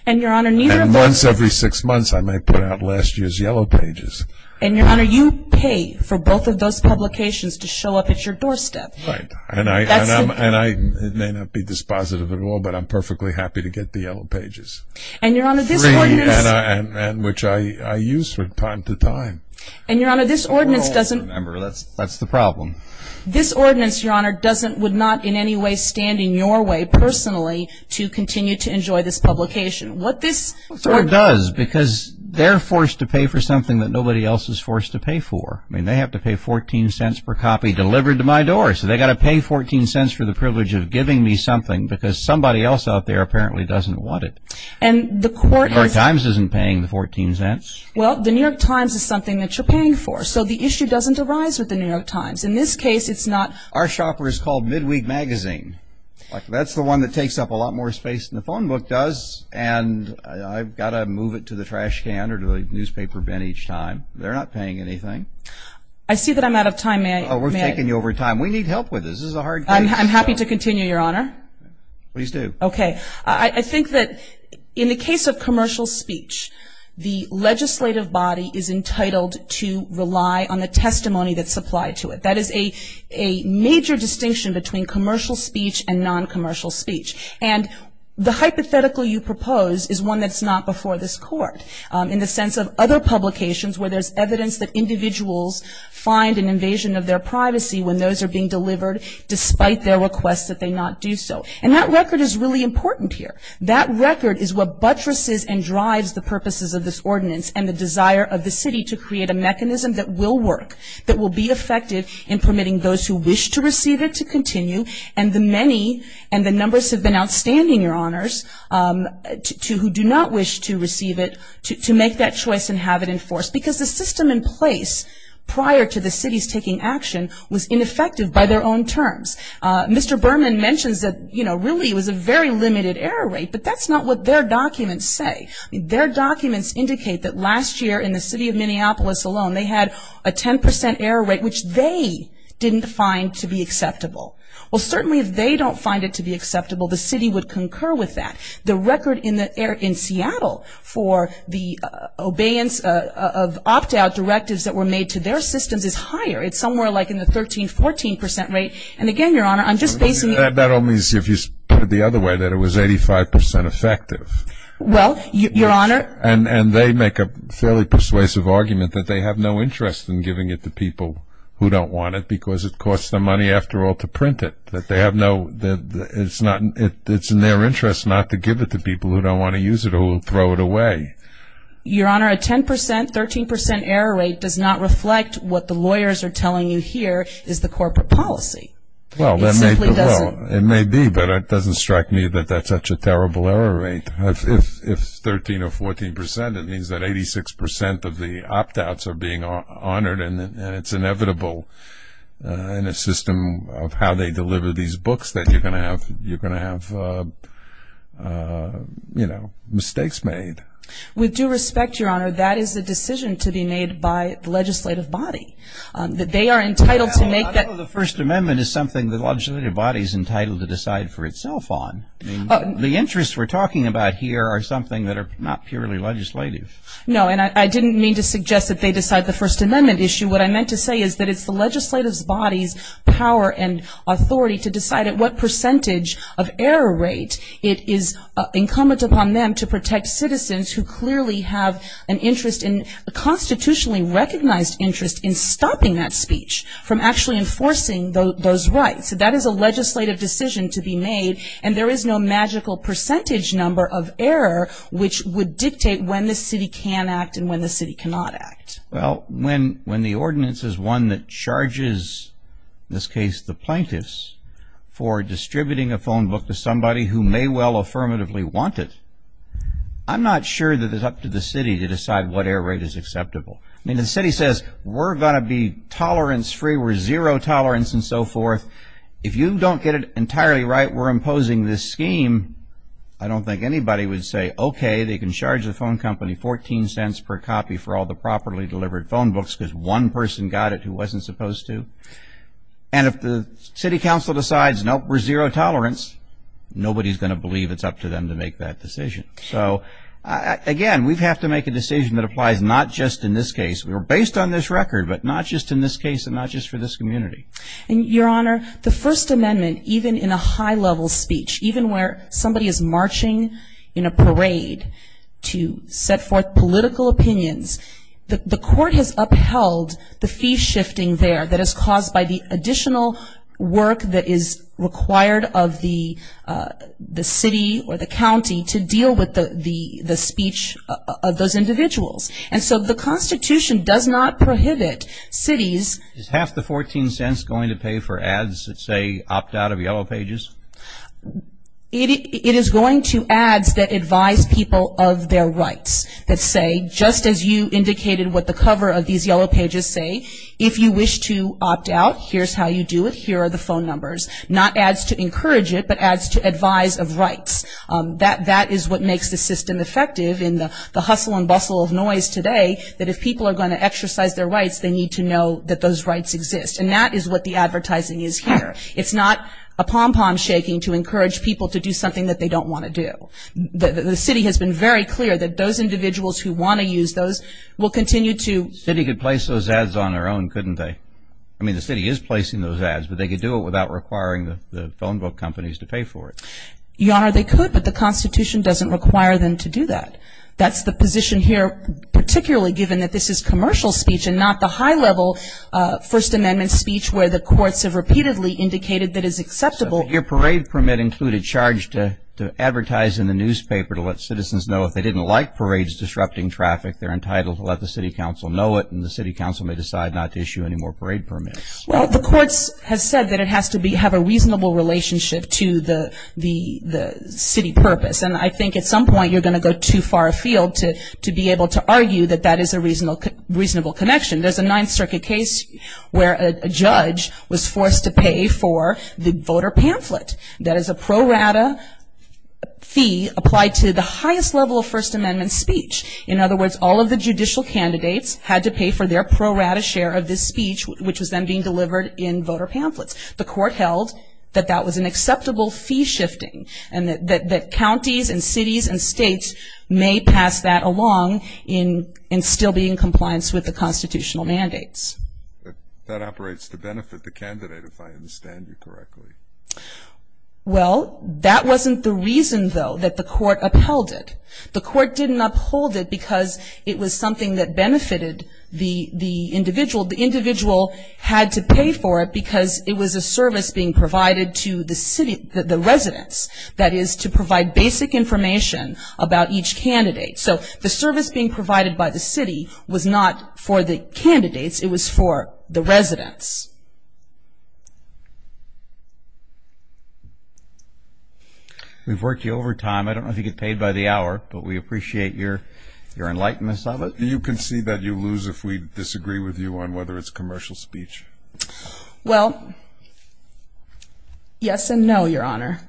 And, Your Honor, neither of those. And once every six months I may put out last year's Yellow Pages. And, Your Honor, you pay for both of those publications to show up at your doorstep. Right. And I may not be dispositive at all, but I'm perfectly happy to get the Yellow Pages. And, Your Honor, this ordinance. And which I use from time to time. And, Your Honor, this ordinance doesn't. Remember, that's the problem. This ordinance, Your Honor, would not in any way stand in your way personally to continue to enjoy this publication. What this. It does because they're forced to pay for something that nobody else is forced to pay for. I mean, they have to pay $0.14 per copy delivered to my door. So they've got to pay $0.14 for the privilege of giving me something because somebody else out there apparently doesn't want it. And the court is. The New York Times isn't paying the $0.14. Well, the New York Times is something that you're paying for. So the issue doesn't arise with the New York Times. In this case, it's not. Our shopper is called Midweek Magazine. That's the one that takes up a lot more space than the phone book does. And I've got to move it to the trash can or to the newspaper bin each time. They're not paying anything. I see that I'm out of time. May I? We're taking you over time. We need help with this. This is a hard case. I'm happy to continue, Your Honor. Please do. Okay. I think that in the case of commercial speech, the legislative body is entitled to rely on the testimony that's supplied to it. That is a major distinction between commercial speech and non-commercial speech. And the hypothetical you propose is one that's not before this court in the sense of other publications where there's evidence that individuals find an invasion of their privacy when those are being delivered, despite their request that they not do so. And that record is really important here. That record is what buttresses and drives the purposes of this ordinance and the desire of the city to create a mechanism that will work, that will be effective in permitting those who wish to receive it to continue, and the many and the numbers have been outstanding, Your Honors, to who do not wish to receive it to make that choice and have it enforced. Because the system in place prior to the city's taking action was ineffective by their own terms. Mr. Berman mentions that, you know, really it was a very limited error rate, but that's not what their documents say. Their documents indicate that last year in the city of Minneapolis alone, they had a 10% error rate, which they didn't find to be acceptable. Well, certainly if they don't find it to be acceptable, the city would concur with that. The record in Seattle for the obeyance of opt-out directives that were made to their systems is higher. It's somewhere like in the 13, 14% rate. And again, Your Honor, I'm just basing it. That only is if you put it the other way, that it was 85% effective. Well, Your Honor. And they make a fairly persuasive argument that they have no interest in giving it to people who don't want it because it costs them money after all to print it. That they have no – it's in their interest not to give it to people who don't want to use it or throw it away. Your Honor, a 10%, 13% error rate does not reflect what the lawyers are telling you here is the corporate policy. It simply doesn't. Well, it may be, but it doesn't strike me that that's such a terrible error rate. If 13% or 14%, it means that 86% of the opt-outs are being honored and it's inevitable in a system of how they deliver these books that you're going to have mistakes made. With due respect, Your Honor, that is a decision to be made by the legislative body. They are entitled to make that decision. I don't know if the First Amendment is something the legislative body is entitled to decide for itself on. The interests we're talking about here are something that are not purely legislative. No, and I didn't mean to suggest that they decide the First Amendment issue. What I meant to say is that it's the legislative body's power and authority to decide at what percentage of error rate it is incumbent upon them to protect citizens who clearly have an interest in – a constitutionally recognized interest in stopping that speech from actually enforcing those rights. That is a legislative decision to be made, and there is no magical percentage number of error which would dictate when the city can act and when the city cannot act. Well, when the ordinance is one that charges, in this case, the plaintiffs, for distributing a phone book to somebody who may well affirmatively want it, I'm not sure that it's up to the city to decide what error rate is acceptable. I mean, the city says, we're going to be tolerance-free, we're zero tolerance, and so forth. If you don't get it entirely right, we're imposing this scheme, I don't think anybody would say, okay, they can charge the phone company 14 cents per copy for all the properly delivered phone books because one person got it who wasn't supposed to. And if the city council decides, nope, we're zero tolerance, nobody's going to believe it's up to them to make that decision. So, again, we have to make a decision that applies not just in this case. We're based on this record, but not just in this case and not just for this community. And, Your Honor, the First Amendment, even in a high-level speech, even where somebody is marching in a parade to set forth political opinions, the court has upheld the fee shifting there that is caused by the additional work that is required of the city or the county to deal with the speech of those individuals. And so the Constitution does not prohibit cities. Is half the 14 cents going to pay for ads that say opt out of yellow pages? It is going to ads that advise people of their rights that say, just as you indicated what the cover of these yellow pages say, if you wish to opt out, here's how you do it, here are the phone numbers. Not ads to encourage it, but ads to advise of rights. That is what makes the system effective in the hustle and bustle of noise today, that if people are going to exercise their rights, they need to know that those rights exist. And that is what the advertising is here. It's not a pom-pom shaking to encourage people to do something that they don't want to do. The city has been very clear that those individuals who want to use those will continue to. The city could place those ads on their own, couldn't they? I mean, the city is placing those ads, but they could do it without requiring the phone book companies to pay for it. Your Honor, they could, but the Constitution doesn't require them to do that. That's the position here, particularly given that this is commercial speech and not the high-level First Amendment speech where the courts have repeatedly indicated that it is acceptable. Your parade permit included charge to advertise in the newspaper to let citizens know if they didn't like parades disrupting traffic, they're entitled to let the city council know it and the city council may decide not to issue any more parade permits. Well, the courts have said that it has to have a reasonable relationship to the city purpose. And I think at some point you're going to go too far afield to be able to argue that that is a reasonable connection. There's a Ninth Circuit case where a judge was forced to pay for the voter pamphlet. That is a pro rata fee applied to the highest level of First Amendment speech. In other words, all of the judicial candidates had to pay for their pro rata share of this speech, which was then being delivered in voter pamphlets. The court held that that was an acceptable fee shifting and that counties and cities and states may pass that along and still be in compliance with the constitutional mandates. That operates to benefit the candidate, if I understand you correctly. Well, that wasn't the reason, though, that the court upheld it. The court didn't uphold it because it was something that benefited the individual. The individual had to pay for it because it was a service being provided to the residents. That is, to provide basic information about each candidate. So the service being provided by the city was not for the candidates. It was for the residents. We've worked you over time. I don't know if you get paid by the hour, but we appreciate your enlightenment of it. Do you concede that you lose if we disagree with you on whether it's commercial speech? Well, yes and no, Your Honor.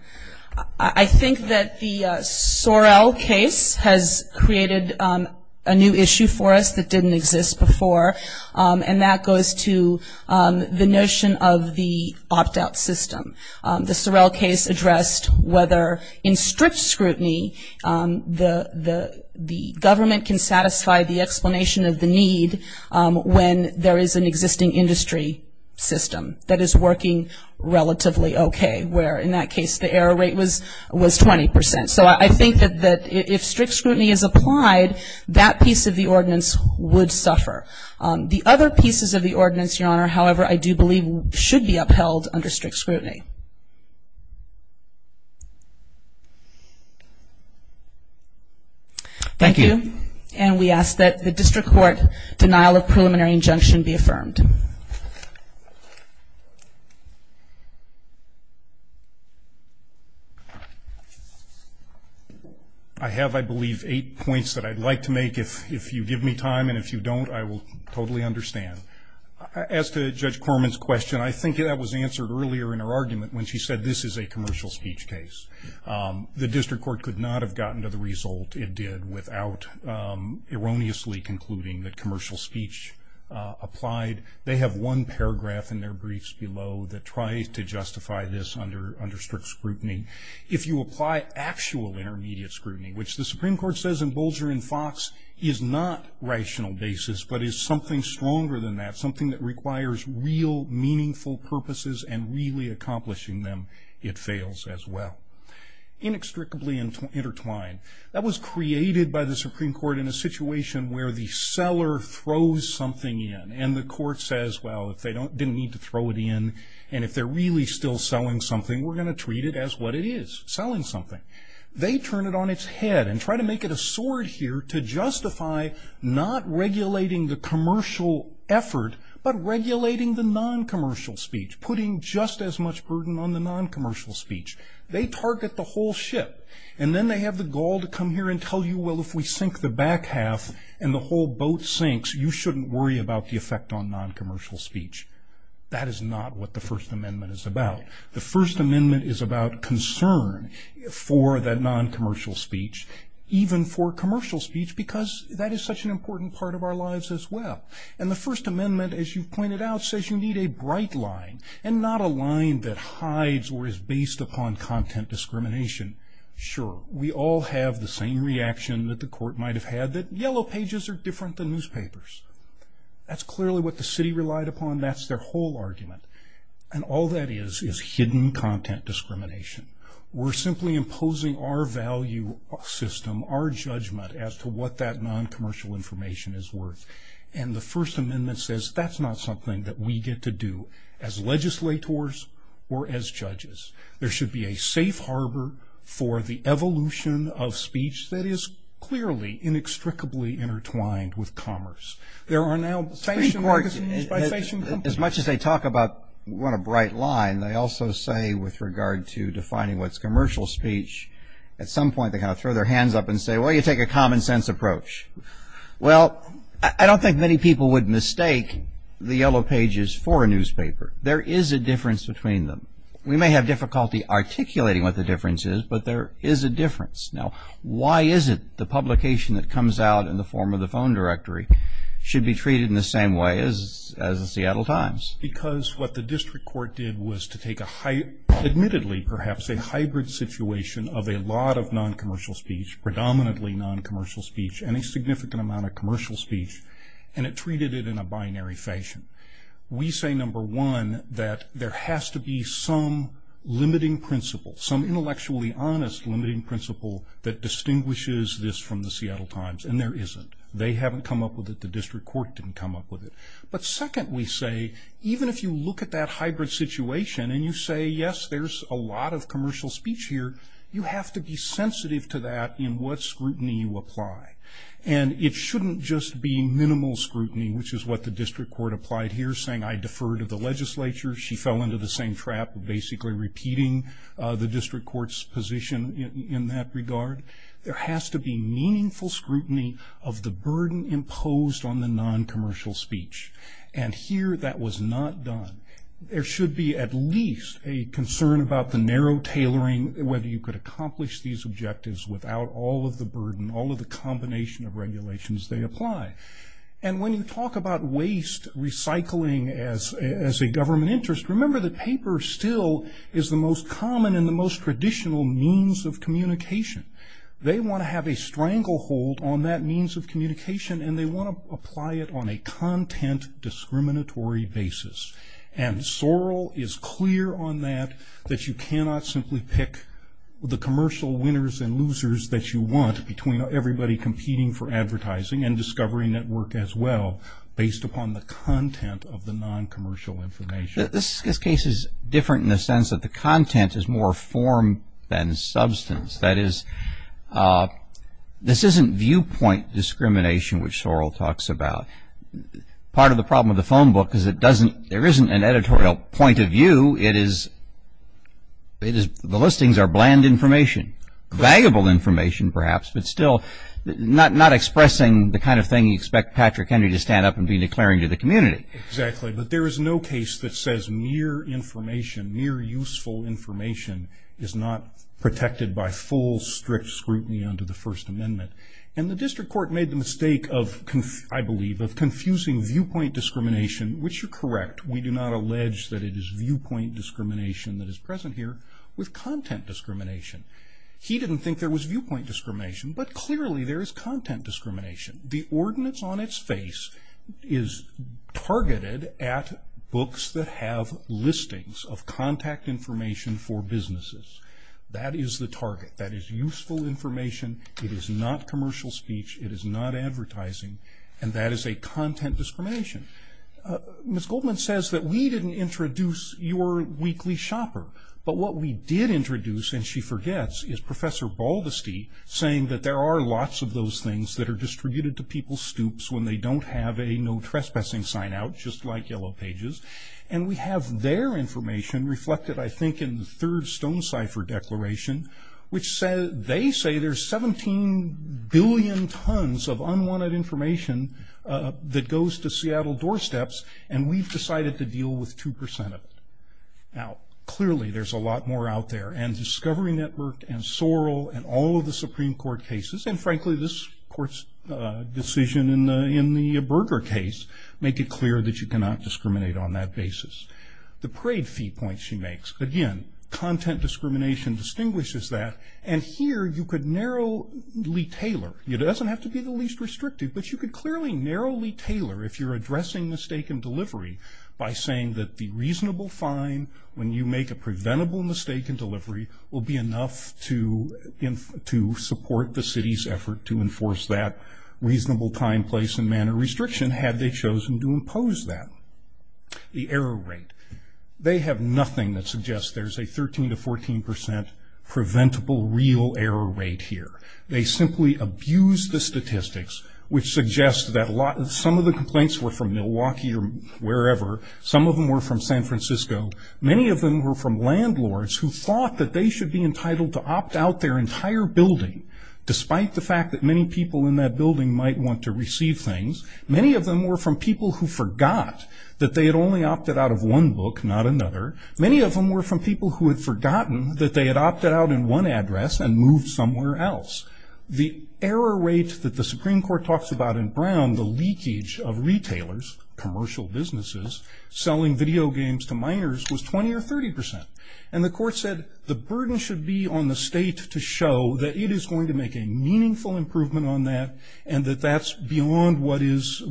I think that the Sorrell case has created a new issue for us that didn't exist before, and that goes to the notion of the opt-out system. The Sorrell case addressed whether in strict scrutiny the government can satisfy the explanation of the need when there is an existing industry system that is working relatively okay, where in that case the error rate was 20%. So I think that if strict scrutiny is applied, that piece of the ordinance would suffer. The other pieces of the ordinance, Your Honor, however, I do believe should be upheld under strict scrutiny. Thank you. And we ask that the district court denial of preliminary injunction be affirmed. I have, I believe, eight points that I'd like to make. If you give me time and if you don't, I will totally understand. As to Judge Corman's question, I think that was answered earlier in her argument when she said this is a commercial speech case. The district court could not have gotten to the result it did without erroneously concluding that commercial speech applied. They have one paragraph in their briefs below that tries to justify this under strict scrutiny. If you apply actual intermediate scrutiny, which the Supreme Court says in Bolger and Fox is not rational basis, but is something stronger than that, something that requires real meaningful purposes and really accomplishing them, it fails as well. Inextricably intertwined. That was created by the Supreme Court in a situation where the seller throws something in and the court says, well, if they didn't need to throw it in and if they're really still selling something, we're going to treat it as what it is, selling something. They turn it on its head and try to make it a sword here to justify not regulating the commercial effort, but regulating the non-commercial speech, putting just as much burden on the non-commercial speech. They target the whole ship. And then they have the gall to come here and tell you, well, if we sink the back half and the whole boat sinks, you shouldn't worry about the effect on non-commercial speech. That is not what the First Amendment is about. The First Amendment is about concern for that non-commercial speech, even for commercial speech, because that is such an important part of our lives as well. And the First Amendment, as you've pointed out, says you need a bright line and not a line that hides or is based upon content discrimination. Sure, we all have the same reaction that the court might have had, that yellow pages are different than newspapers. That's clearly what the city relied upon. That's their whole argument. And all that is is hidden content discrimination. We're simply imposing our value system, our judgment, as to what that non-commercial information is worth. And the First Amendment says that's not something that we get to do as legislators or as judges. There should be a safe harbor for the evolution of speech that is clearly inextricably intertwined with commerce. There are now station magazines by station companies. As much as they talk about what a bright line, they also say with regard to defining what's commercial speech, at some point they kind of throw their hands up and say, well, you take a common sense approach. Well, I don't think many people would mistake the yellow pages for a newspaper. There is a difference between them. We may have difficulty articulating what the difference is, but there is a difference. Now, why is it the publication that comes out in the form of the phone directory should be treated in the same way as the Seattle Times? Because what the district court did was to take, admittedly, perhaps a hybrid situation of a lot of non-commercial speech, predominantly non-commercial speech, and a significant amount of commercial speech, and it treated it in a binary fashion. We say, number one, that there has to be some limiting principle, some intellectually honest limiting principle that distinguishes this from the Seattle Times, and there isn't. They haven't come up with it. The district court didn't come up with it. But second, we say, even if you look at that hybrid situation and you say, yes, there's a lot of commercial speech here, you have to be sensitive to that in what scrutiny you apply. And it shouldn't just be minimal scrutiny, which is what the district court applied here, saying I defer to the legislature. She fell into the same trap of basically repeating the district court's position in that regard. There has to be meaningful scrutiny of the burden imposed on the non-commercial speech. And here that was not done. There should be at least a concern about the narrow tailoring, whether you could accomplish these objectives without all of the burden, all of the combination of regulations they apply. And when you talk about waste recycling as a government interest, remember that paper still is the most common and the most traditional means of communication. They want to have a stranglehold on that means of communication, and they want to apply it on a content discriminatory basis. And Sorrell is clear on that, that you cannot simply pick the commercial winners and losers that you want between everybody competing for advertising and discovery network as well, based upon the content of the non-commercial information. This case is different in the sense that the content is more form than substance. That is, this isn't viewpoint discrimination, which Sorrell talks about. Part of the problem with the phone book is there isn't an editorial point of view. The listings are bland information, valuable information perhaps, but still not expressing the kind of thing you expect Patrick Henry to stand up and be declaring to the community. Exactly, but there is no case that says mere information, mere useful information is not protected by full strict scrutiny under the First Amendment. And the district court made the mistake of, I believe, of confusing viewpoint discrimination, which you're correct, we do not allege that it is viewpoint discrimination that is present here, with content discrimination. He didn't think there was viewpoint discrimination, but clearly there is content discrimination. The ordinance on its face is targeted at books that have listings of contact information for businesses. That is the target. That is useful information. It is not commercial speech. It is not advertising, and that is a content discrimination. Ms. Goldman says that we didn't introduce your weekly shopper, but what we did introduce, and she forgets, is Professor Baldesty saying that there are lots of those things that are distributed to people's stoops when they don't have a no trespassing sign out, just like Yellow Pages. And we have their information reflected, I think, in the third Stone Cipher declaration, which they say there's 17 billion tons of unwanted information that goes to Seattle doorsteps, and we've decided to deal with 2% of it. Now, clearly there's a lot more out there, and Discovery Network, and Sorrell, and all of the Supreme Court cases, and frankly this Court's decision in the Berger case, make it clear that you cannot discriminate on that basis. The parade fee point she makes, again, content discrimination distinguishes that, and here you could narrowly tailor. It doesn't have to be the least restrictive, but you could clearly narrowly tailor if you're addressing mistake in delivery by saying that the reasonable fine when you make a preventable mistake in delivery will be enough to support the city's effort to enforce that reasonable time, place, and manner restriction, had they chosen to impose that. The error rate, they have nothing that suggests there's a 13% to 14% preventable real error rate here. They simply abuse the statistics, which suggests that some of the complaints were from Milwaukee or wherever. Some of them were from San Francisco. Many of them were from landlords who thought that they should be entitled to opt out their entire building, despite the fact that many people in that building might want to receive things. Many of them were from people who forgot that they had only opted out of one book, not another. Many of them were from people who had forgotten that they had opted out in one address and moved somewhere else. The error rate that the Supreme Court talks about in Brown, the leakage of retailers, commercial businesses, selling video games to minors, was 20% or 30%. And the court said the burden should be on the state to show that it is going to make a meaningful improvement on that and that that's beyond what is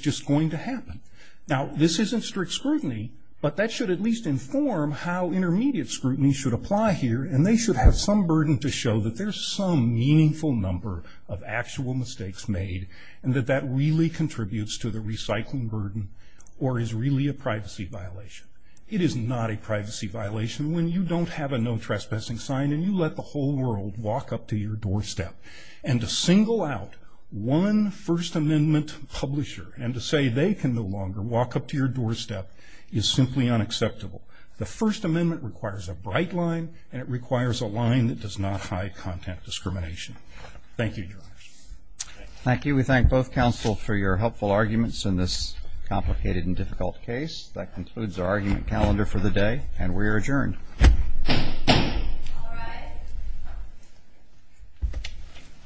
just going to happen. Now, this isn't strict scrutiny, but that should at least inform how intermediate scrutiny should apply here, and they should have some burden to show that there's some meaningful number of actual mistakes made and that that really contributes to the recycling burden or is really a privacy violation. It is not a privacy violation when you don't have a no trespassing sign and you let the whole world walk up to your doorstep. And to single out one First Amendment publisher and to say they can no longer walk up to your doorstep is simply unacceptable. The First Amendment requires a bright line and it requires a line that does not hide content discrimination. Thank you, Your Honor. Thank you. We thank both counsel for your helpful arguments in this complicated and difficult case. That concludes our argument calendar for the day, and we are adjourned. All rise.